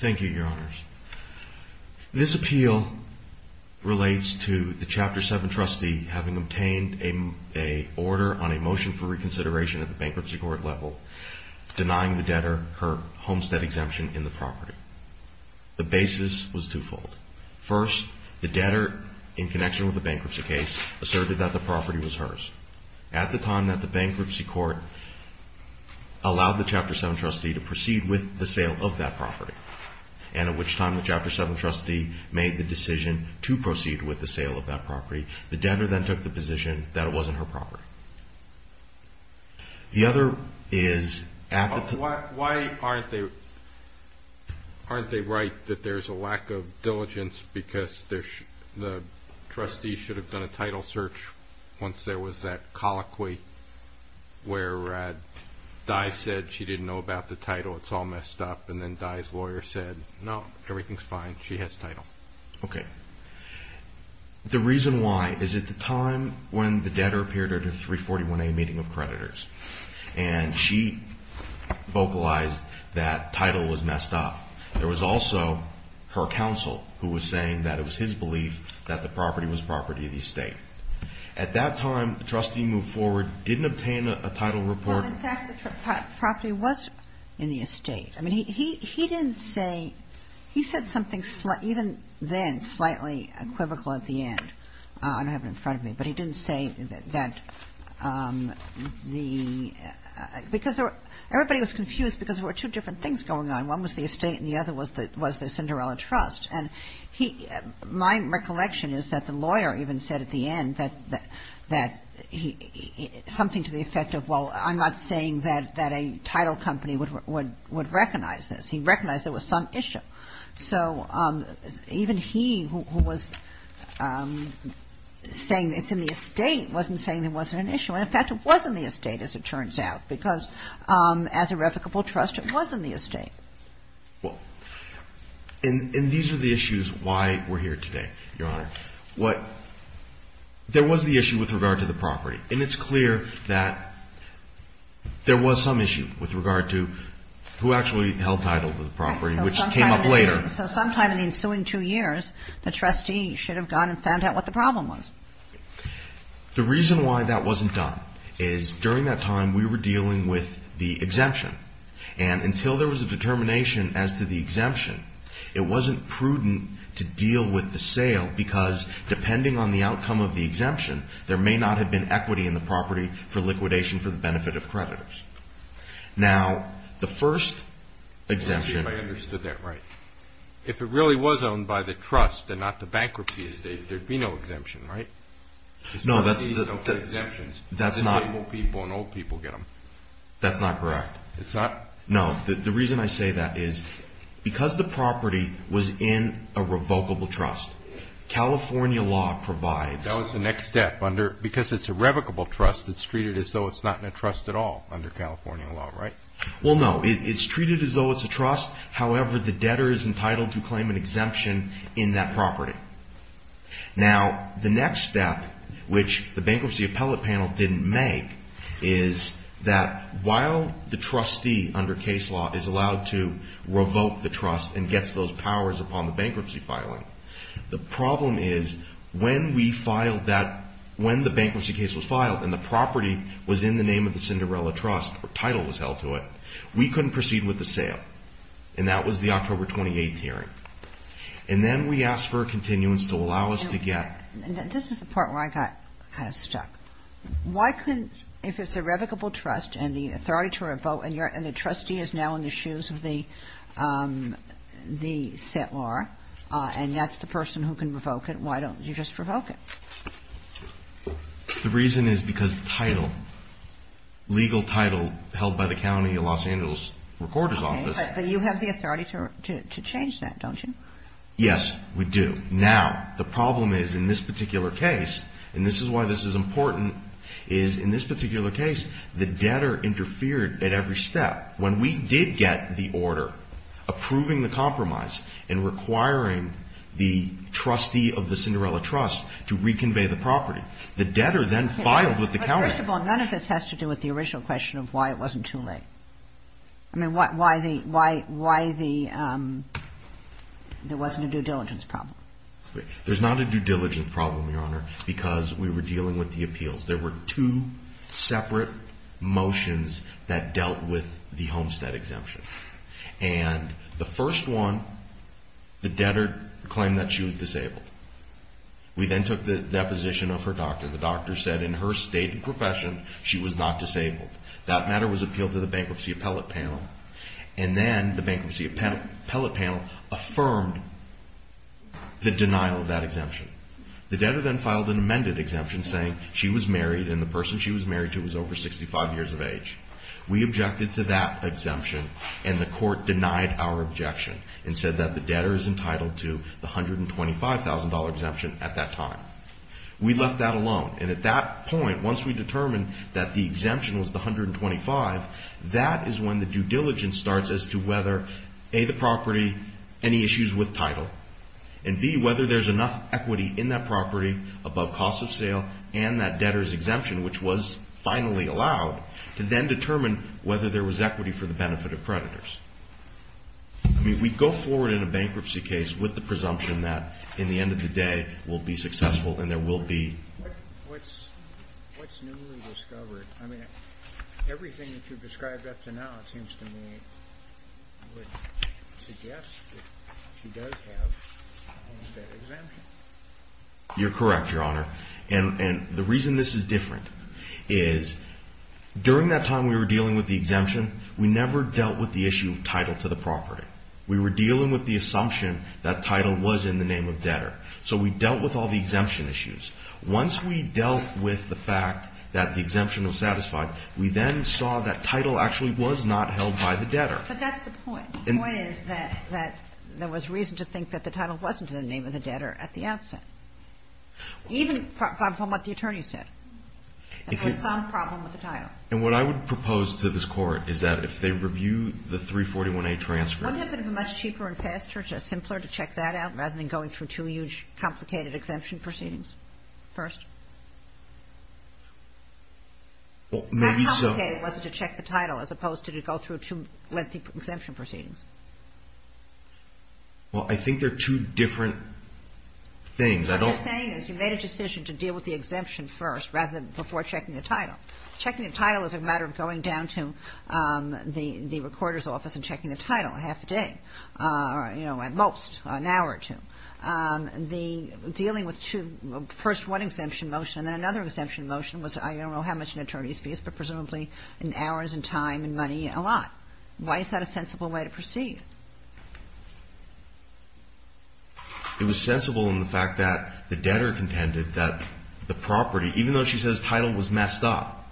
Thank you, Your Honors. This appeal relates to the Chapter 7 trustee having obtained an order on a motion for reconsideration at the Bankruptcy Court level, denying the debtor her homestead exemption in the property. The basis was twofold. First, the debtor, in connection with the bankruptcy case, asserted that the property was hers. At the time that the Bankruptcy Court allowed the Chapter 7 trustee to proceed with the sale of that property, and at which time the Chapter 7 trustee made the decision to proceed with the sale of that property, the debtor then took the position that it wasn't her property. Why aren't they right that there's a lack of diligence because the trustee should have done a title search once there was that colloquy where Dye said she didn't know about the title, it's all messed up, and then Dye's lawyer said, no, everything's fine, she has title? Okay. The reason why is at the time when the debtor appeared at a 341A meeting of creditors, and she vocalized that title was messed up. There was also her counsel who was saying that it was his belief that the property was property of the estate. At that time, the trustee moved forward, didn't obtain a title report. In fact, the property was in the estate. I mean, he didn't say – he said something even then slightly equivocal at the end. I don't have it in front of me, but he didn't say that the – because everybody was confused because there were two different things going on. One was the estate and the other was the Cinderella Trust. And he – my recollection is that the lawyer even said at the end that he – something to the effect of, well, I'm not saying that a title company would recognize this. He recognized there was some issue. So even he, who was saying it's in the estate, wasn't saying it wasn't an issue. And, in fact, it was in the estate, as it turns out, because as a replicable trust, it was in the estate. Well, and these are the issues why we're here today, Your Honor. What – there was the issue with regard to the property. And it's clear that there was some issue with regard to who actually held title to the property, which came up later. Right. So sometime in the ensuing two years, the trustee should have gone and found out what the problem was. The reason why that wasn't done is, during that time, we were dealing with the exemption. And until there was a determination as to the exemption, it wasn't prudent to deal with the sale because, depending on the outcome of the exemption, there may not have been equity in the property for liquidation for the benefit of creditors. Now, the first exemption – Let me see if I understood that right. If it really was owned by the trust and not the bankruptcy estate, there'd be no exemption, right? No, that's – There'd be no exemptions. That's not – Disabled people and old people get them. That's not correct. It's not? No. The reason I say that is, because the property was in a revocable trust, California law provides – That was the next step. Because it's a revocable trust, it's treated as though it's not in a trust at all under California law, right? Well, no. It's treated as though it's a trust. However, the debtor is entitled to claim an exemption in that property. Now, the next step, which the bankruptcy appellate panel didn't make, is that while the trustee, under case law, is allowed to revoke the trust and gets those powers upon the bankruptcy filing, the problem is, when we filed that – when the bankruptcy case was filed and the property was in the name of the Cinderella Trust, or title was held to it, we couldn't proceed with the sale. And that was the October 28th hearing. And then we asked for a continuance to allow us to get – And this is the part where I got kind of stuck. Why couldn't – if it's a revocable trust and the authority to revoke – and the trustee is now in the shoes of the settlor, and that's the person who can revoke it, why don't you just revoke it? The reason is because the title, legal title held by the county of Los Angeles recorder's office – Okay. But you have the authority to change that, don't you? Yes, we do. Now, the problem is, in this particular case – and this is why this is important – is, in this particular case, the debtor interfered at every step. When we did get the order approving the compromise and requiring the trustee of the Cinderella Trust to reconvey the property, the debtor then filed with the county. First of all, none of this has to do with the original question of why it wasn't too late. I mean, why the – there wasn't a due diligence problem. There's not a due diligence problem, Your Honor, because we were dealing with the appeals. There were two separate motions that dealt with the Homestead exemption. And the first one, the debtor claimed that she was disabled. We then took the deposition of her doctor. The doctor said in her state and profession, she was not disabled. That matter was appealed to the Bankruptcy Appellate Panel, and then the Bankruptcy Appellate Panel affirmed the denial of that exemption. The debtor then filed an amended exemption saying she was married, and the person she was married to was over 65 years of age. We objected to that exemption, and the court denied our objection and said that the debtor is entitled to the $125,000 exemption at that time. We left that alone, and at that point, once we determined that the exemption was the $125,000, that is when the due diligence starts as to whether, A, the property, any issues with title, and, B, whether there's enough equity in that property above cost of sale and that debtor's exemption, which was finally allowed, to then determine whether there was equity for the benefit of creditors. I mean, we go forward in a bankruptcy case with the presumption that, in the end of the day, we'll be successful and there will be – What's newly discovered? I mean, everything that you've described up to now, it seems to me, would suggest that she does have that exemption. You're correct, Your Honor, and the reason this is different is, during that time we were dealing with the exemption, we never dealt with the issue of title to the property. We were dealing with the assumption that title was in the name of debtor, so we dealt with all the exemption issues. Once we dealt with the fact that the exemption was satisfied, we then saw that title actually was not held by the debtor. But that's the point. The point is that there was reason to think that the title wasn't in the name of the debtor at the outset, even from what the attorneys said. There was some problem with the title. And what I would propose to this Court is that if they review the 341A transcript – Wouldn't it have been much cheaper and faster, simpler, to check that out rather than going through two huge, complicated exemption proceedings first? How complicated was it to check the title as opposed to to go through two lengthy exemption proceedings? Well, I think they're two different things. What you're saying is you made a decision to deal with the exemption first rather than before checking the title. Checking the title is a matter of going down to the recorder's office and checking the title half a day, you know, at most, an hour or two. The – dealing with two – first one exemption motion and then another exemption motion was I don't know how much an attorney's fee is, but presumably in hours and time and money, a lot. Why is that a sensible way to proceed? It was sensible in the fact that the debtor contended that the property – even though she says title was messed up,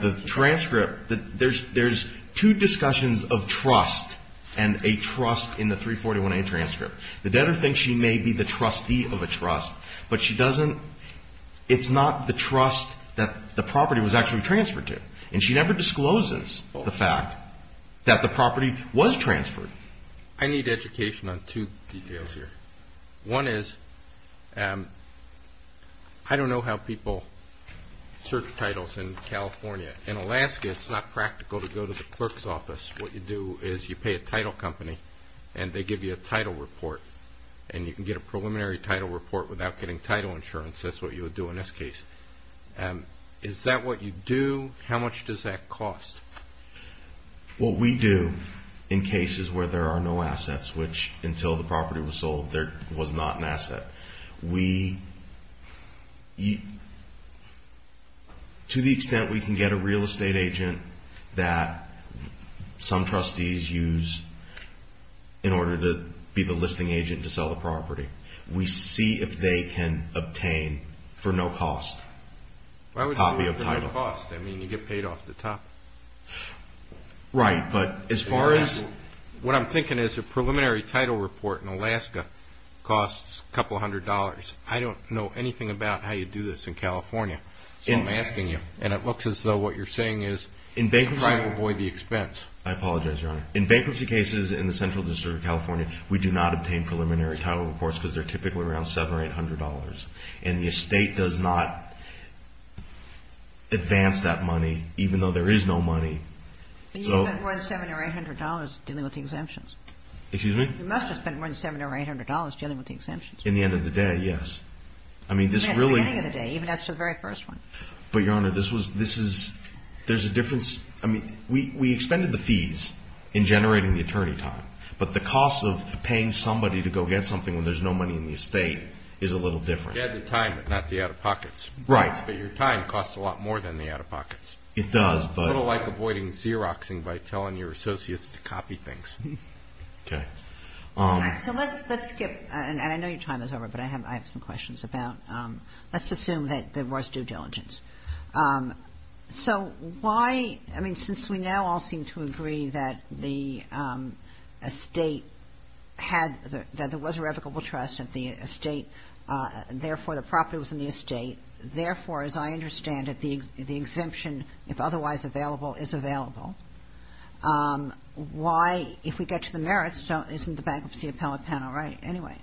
the transcript – there's two discussions of trust and a trust in the 341A transcript. The debtor thinks she may be the trustee of a trust, but she doesn't – it's not the trust that the property was actually transferred to. And she never discloses the fact that the property was transferred. I need education on two details here. One is I don't know how people search titles in California. In Alaska, it's not practical to go to the clerk's office. What you do is you pay a title company and they give you a title report. And you can get a preliminary title report without getting title insurance. That's what you would do in this case. Is that what you do? How much does that cost? What we do in cases where there are no assets, which until the property was sold, there was not an asset, we – to the extent we can get a real estate agent that some trustees use in order to be the listing agent to sell the property, we see if they can obtain for no cost a copy of the title. It's not a cost. I mean, you get paid off the top. Right. But as far as – What I'm thinking is a preliminary title report in Alaska costs a couple hundred dollars. I don't know anything about how you do this in California. So I'm asking you. And it looks as though what you're saying is try to avoid the expense. I apologize, Your Honor. In bankruptcy cases in the Central District of California, we do not obtain preliminary title reports because they're typically around $700 or $800. And the estate does not advance that money, even though there is no money. But you spent more than $700 or $800 dealing with the exemptions. Excuse me? You must have spent more than $700 or $800 dealing with the exemptions. In the end of the day, yes. I mean, this really – In the beginning of the day, even as to the very first one. But, Your Honor, this was – this is – there's a difference. I mean, we expended the fees in generating the attorney time. But the cost of paying somebody to go get something when there's no money in the estate is a little different. You add the time, but not the out-of-pockets. Right. But your time costs a lot more than the out-of-pockets. It does, but – It's a little like avoiding Xeroxing by telling your associates to copy things. Okay. All right. So let's skip – and I know your time is over, but I have some questions about – let's assume that there was due diligence. So why – I mean, since we now all seem to agree that the estate had – that there was a revocable trust at the estate, therefore the property was in the estate, therefore, as I understand it, the exemption, if otherwise available, is available, why, if we get to the merits, isn't the bankruptcy appellate panel right anyway?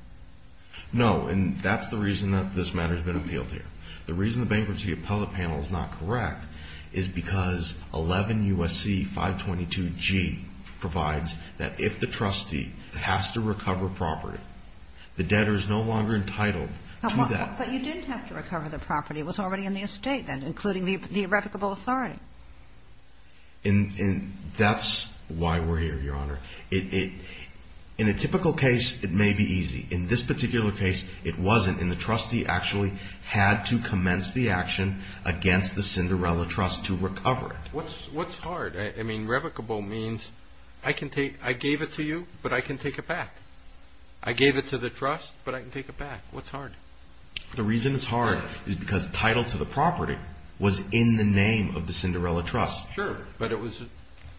No. And that's the reason that this matter has been appealed here. The reason the bankruptcy appellate panel is not correct is because 11 U.S.C. 522G provides that if the trustee has to recover property, the debtor is no longer entitled to that. But you didn't have to recover the property. It was already in the estate then, including the revocable authority. And that's why we're here, Your Honor. In a typical case, it may be easy. In this particular case, it wasn't. And the trustee actually had to commence the action against the Cinderella Trust to recover it. What's hard? I mean, revocable means I can take – I gave it to you, but I can take it back. I gave it to the trust, but I can take it back. What's hard? The reason it's hard is because title to the property was in the name of the Cinderella Trust. Sure, but it was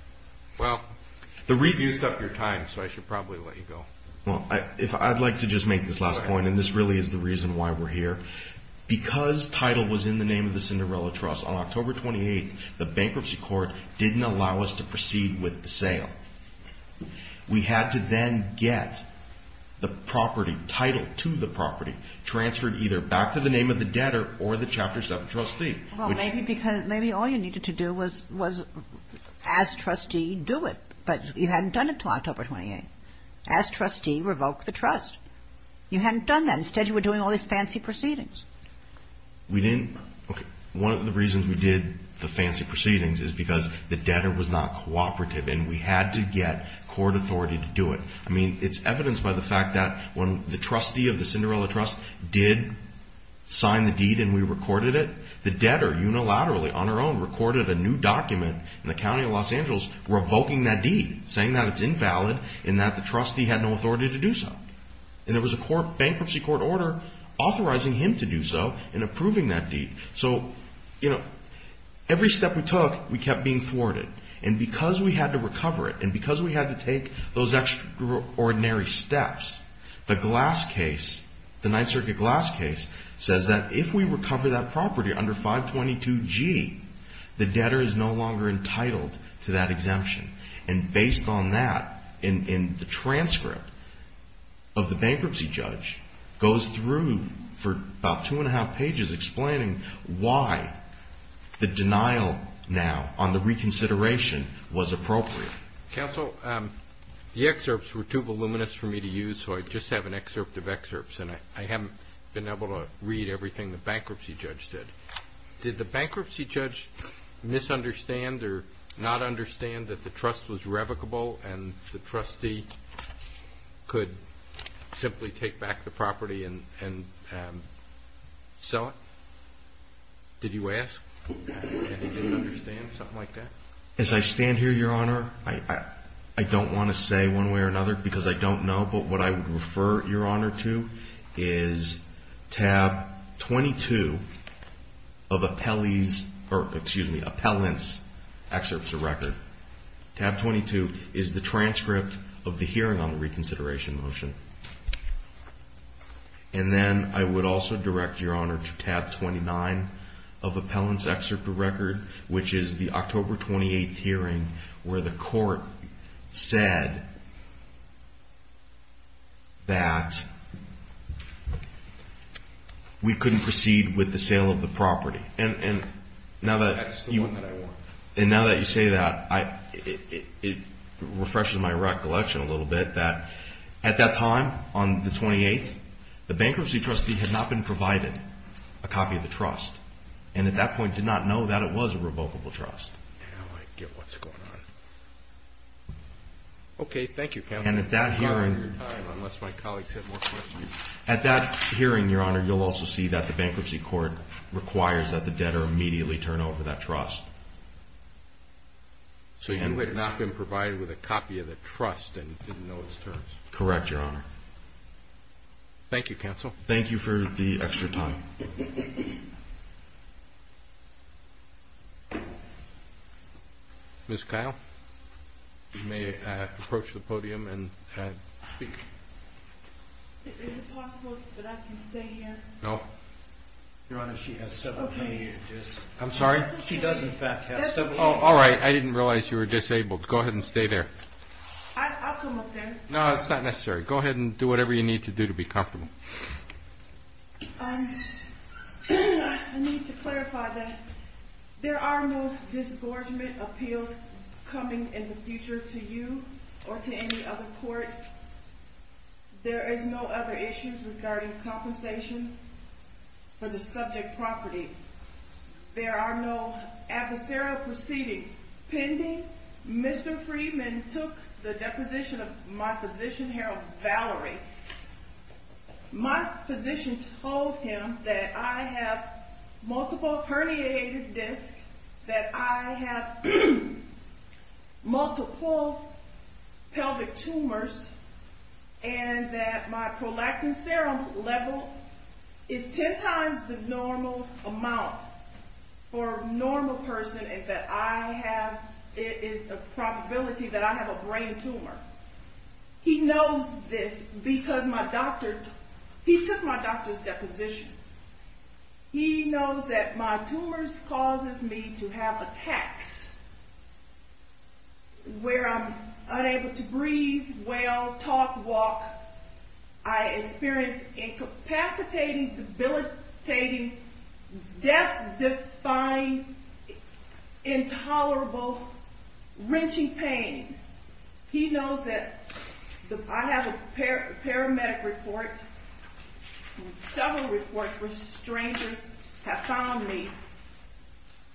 – well, the review's up your time, so I should probably let you go. Well, if I'd like to just make this last point, and this really is the reason why we're here, because title was in the name of the Cinderella Trust, on October 28th, the bankruptcy court didn't allow us to proceed with the sale. We had to then get the property title to the property, transferred either back to the name of the debtor or the Chapter 7 trustee. Well, maybe because – maybe all you needed to do was ask trustee, do it. But you hadn't done it until October 28th. Ask trustee, revoke the trust. You hadn't done that. Instead, you were doing all these fancy proceedings. We didn't – okay. One of the reasons we did the fancy proceedings is because the debtor was not cooperative, and we had to get court authority to do it. I mean, it's evidenced by the fact that when the trustee of the Cinderella Trust did sign the deed and we recorded it, the debtor unilaterally on her own recorded a new document in the county of Los Angeles revoking that deed, saying that it's invalid and that the trustee had no authority to do so. And there was a bankruptcy court order authorizing him to do so and approving that deed. So, you know, every step we took, we kept being thwarted. And because we had to recover it and because we had to take those extraordinary steps, the Glass case, the Ninth Circuit Glass case, says that if we recover that property under 522G, the debtor is no longer entitled to that exemption. And based on that, and the transcript of the bankruptcy judge goes through for about two and a half pages explaining why the denial now on the reconsideration was appropriate. Counsel, the excerpts were too voluminous for me to use, so I just have an excerpt of excerpts, and I haven't been able to read everything the bankruptcy judge said. Did the bankruptcy judge misunderstand or not understand that the trust was revocable and the trustee could simply take back the property and sell it? Did you ask? Did he misunderstand something like that? As I stand here, Your Honor, I don't want to say one way or another because I don't know, but what I would refer Your Honor to is tab 22 of appellant's excerpts of record. Tab 22 is the transcript of the hearing on the reconsideration motion. And then I would also direct Your Honor to tab 29 of appellant's excerpt of record, which is the October 28th hearing where the court said that we couldn't proceed with the sale of the property. That's the one that I want. And now that you say that, it refreshes my recollection a little bit that at that time on the 28th, the bankruptcy trustee had not been provided a copy of the trust, and at that point did not know that it was a revocable trust. Now I get what's going on. Okay. Thank you, counsel. And at that hearing, Your Honor, you'll also see that the bankruptcy court requires that the debtor immediately turn over that trust. So you had not been provided with a copy of the trust and didn't know its terms? Correct, Your Honor. Thank you, counsel. Thank you for the extra time. Thank you. Ms. Kyle, you may approach the podium and speak. Is it possible that I can stay here? No. Your Honor, she has several money issues. I'm sorry? She does, in fact, have several money issues. All right. I didn't realize you were disabled. Go ahead and stay there. I'll come up there. No, that's not necessary. Go ahead and do whatever you need to do to be comfortable. I need to clarify that there are no disgorgement appeals coming in the future to you or to any other court. There is no other issues regarding compensation for the subject property. There are no adversarial proceedings pending. Mr. Friedman took the deposition of my physician, Harold Valerie. My physician told him that I have multiple herniated discs, that I have multiple pelvic tumors, and that my prolactin serum level is ten times the normal amount for a normal person, and that it is a probability that I have a brain tumor. He knows this because he took my doctor's deposition. He knows that my tumors causes me to have attacks where I'm unable to breathe well, talk, walk. I experience incapacitating, debilitating, death-defying, intolerable, wrenching pain. He knows that I have a paramedic report, several reports where strangers have found me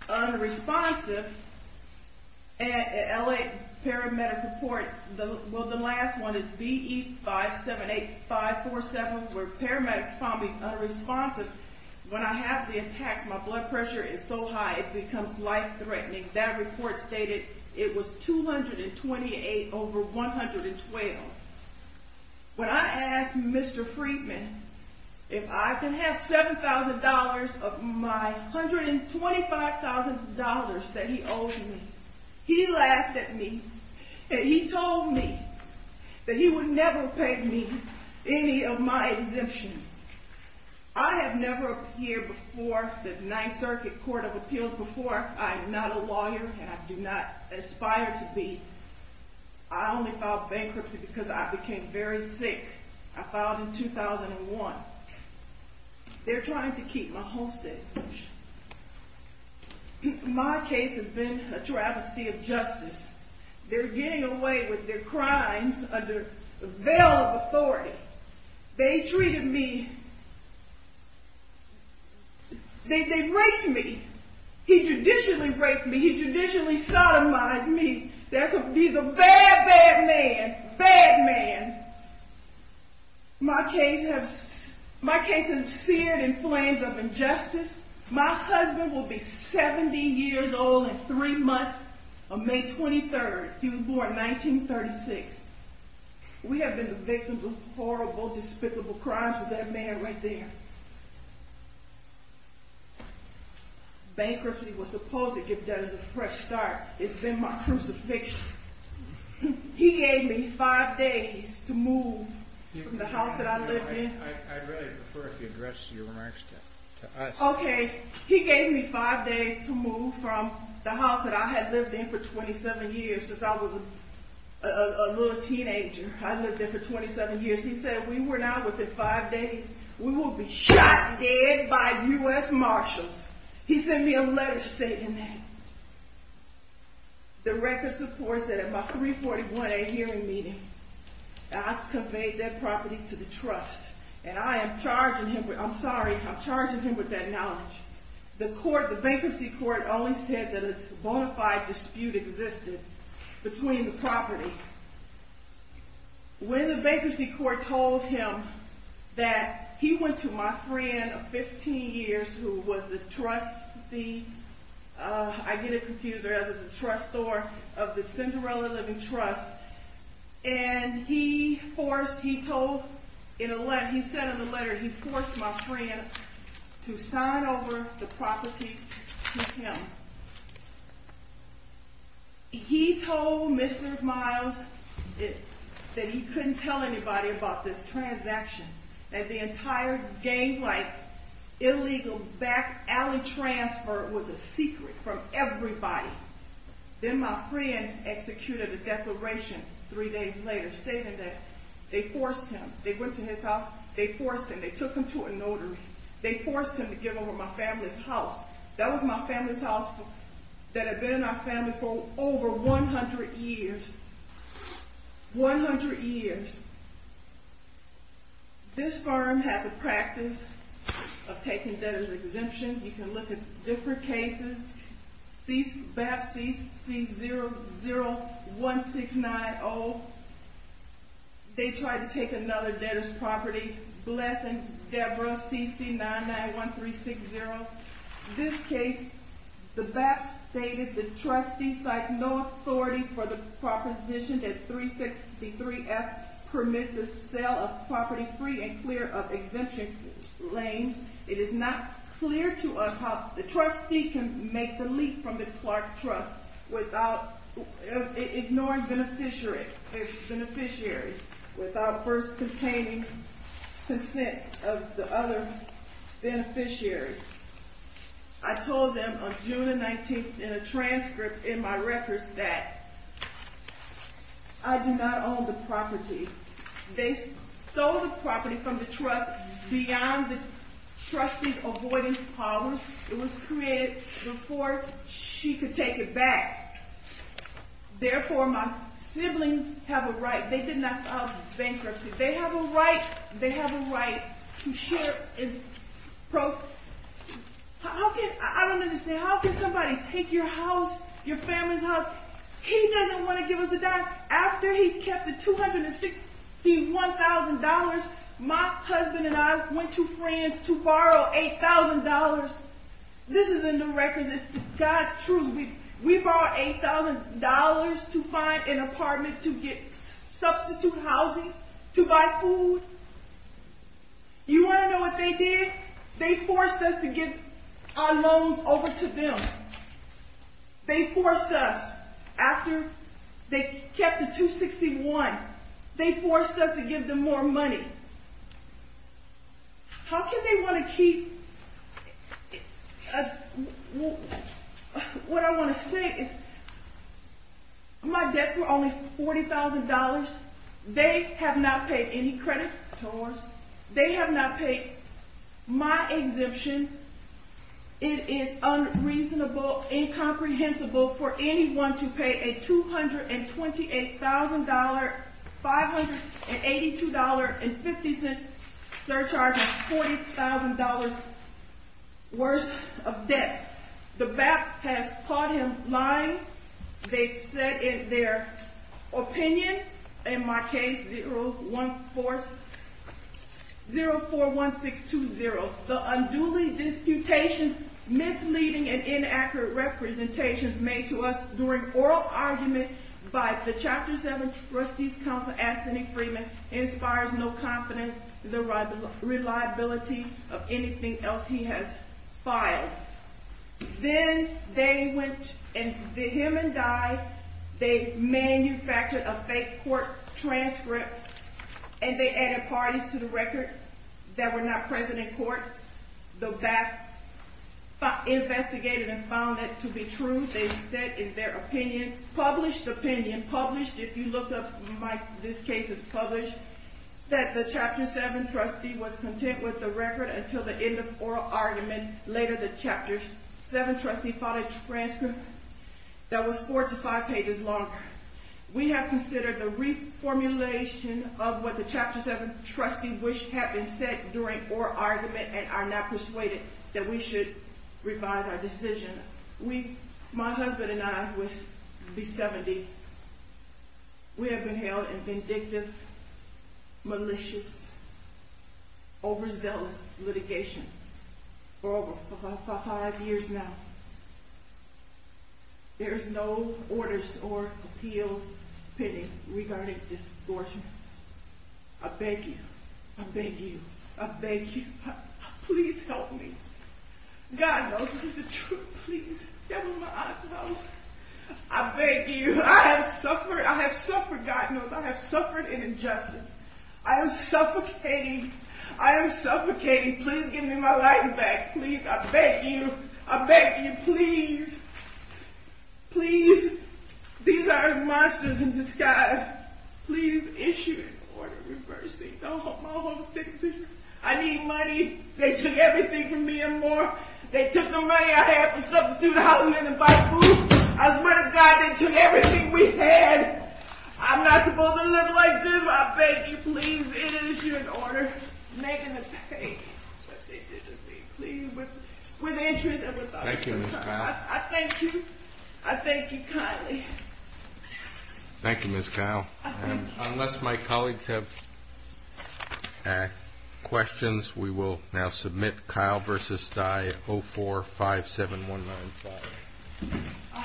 unresponsive. An L.A. paramedic report, well, the last one is B.E. 578547, where paramedics found me unresponsive. When I have the attacks, my blood pressure is so high it becomes life-threatening. That report stated it was 228 over 112. When I asked Mr. Friedman if I could have $7,000 of my $125,000 that he owed me, he laughed at me, and he told me that he would never pay me any of my exemption. I have never appeared before the Ninth Circuit Court of Appeals before. I am not a lawyer, and I do not aspire to be. I only filed bankruptcy because I became very sick. I filed in 2001. They're trying to keep my homesteads. My case has been a travesty of justice. They're getting away with their crimes under the veil of authority. They treated me. They raped me. He judicially raped me. He judicially sodomized me. He's a bad, bad man, bad man. My case has been seared in flames of injustice. My husband will be 70 years old in three months on May 23rd. He was born 1936. We have been the victims of horrible, despicable crimes with that man right there. Bankruptcy was supposed to give Dennis a fresh start. It's been my crucifixion. He gave me five days to move from the house that I lived in. I'd really prefer if you addressed your remarks to us. Okay. He gave me five days to move from the house that I had lived in for 27 years since I was a little teenager. I lived there for 27 years. He said, we were now within five days, we will be shot dead by U.S. Marshals. He sent me a letter stating that. The record supports that at my 341A hearing meeting, I conveyed that property to the trust. And I am charging him, I'm sorry, I'm charging him with that knowledge. The court, the bankruptcy court only said that a bona fide dispute existed between the property. When the bankruptcy court told him that he went to my friend of 15 years who was the trustee, I get it confused, rather the trustor of the Cinderella Living Trust. And he forced, he told, he sent him a letter, he forced my friend to sign over the property to him. He told Mr. Miles that he couldn't tell anybody about this transaction. That the entire gang life, illegal back alley transfer was a secret from everybody. Then my friend executed a declaration three days later, stating that they forced him. They went to his house, they forced him. They took him to a notary. They forced him to give over my family's house. That was my family's house that had been in our family for over 100 years. 100 years. This firm has a practice of taking debtors exemptions. You can look at different cases. BAP CC001690, they tried to take another debtor's property. BLEF and DEBRA CC991360. This case, the BAP stated the trustee cites no authority for the proposition that 363F permits the sale of property free and clear of exemption claims. It is not clear to us how the trustee can make the leap from the Clark Trust ignoring beneficiaries without first containing consent of the other beneficiaries. I told them on June 19th in a transcript in my records that I do not own the property. They stole the property from the trust beyond the trustee's avoidance policy. It was created before she could take it back. Therefore, my siblings have a right. They did not cause bankruptcy. They have a right. They have a right to share. I don't understand. How can somebody take your house, your family's house? He doesn't want to give us a dime. After he kept the $261,000, my husband and I went to friends to borrow $8,000. This is in the records. It's God's truth. We borrowed $8,000 to find an apartment to get substitute housing to buy food. You want to know what they did? They forced us to give our loans over to them. They forced us after they kept the $261,000. They forced us to give them more money. How can they want to keep? What I want to say is my debts were only $40,000. They have not paid any credit to us. They have not paid my exemption. It is unreasonable, incomprehensible for anyone to pay a $228,000, $582.50 surcharge of $40,000 worth of debt. The BAP has caught him lying. They've said in their opinion, in my case, 041620, the unduly disputations, misleading and inaccurate representations made to us during oral argument by the Chapter 7 Trustees Council, Anthony Freeman, inspires no confidence in the reliability of anything else he has filed. Then they went and, him and I, they manufactured a fake court transcript and they added parties to the record that were not present in court. The BAP investigated and found that to be true. They said in their opinion, published opinion, published, if you look up my, this case is published, that the Chapter 7 trustee was content with the record until the end of oral argument. Later, the Chapter 7 trustee filed a transcript that was four to five pages long. We have considered the reformulation of what the Chapter 7 trustee wished had been said during oral argument and are not persuaded that we should revise our decision. My husband and I, who is 70, we have been held in vindictive, malicious, overzealous litigation for over five years now. There is no orders or appeals pending regarding this distortion. I beg you, I beg you, I beg you, please help me. God knows this is the truth, please, devil in my eyes knows. I beg you, I have suffered, I have suffered, God knows, I have suffered an injustice. I am suffocating, I am suffocating, please give me my life back, please, I beg you, I beg you, please. Please, these are monsters in disguise. Please issue an order reversing my whole situation. I need money. They took everything from me and more. They took the money I had for substitute housing and to buy food. I swear to God, they took everything we had. I'm not supposed to live like this. I beg you, please, issue an order making them pay what they did to me, please, with interest and without interest. I thank you. I thank you kindly. Thank you, Ms. Kyle. Unless my colleagues have questions, we will now submit Kyle v. Stey 0457195.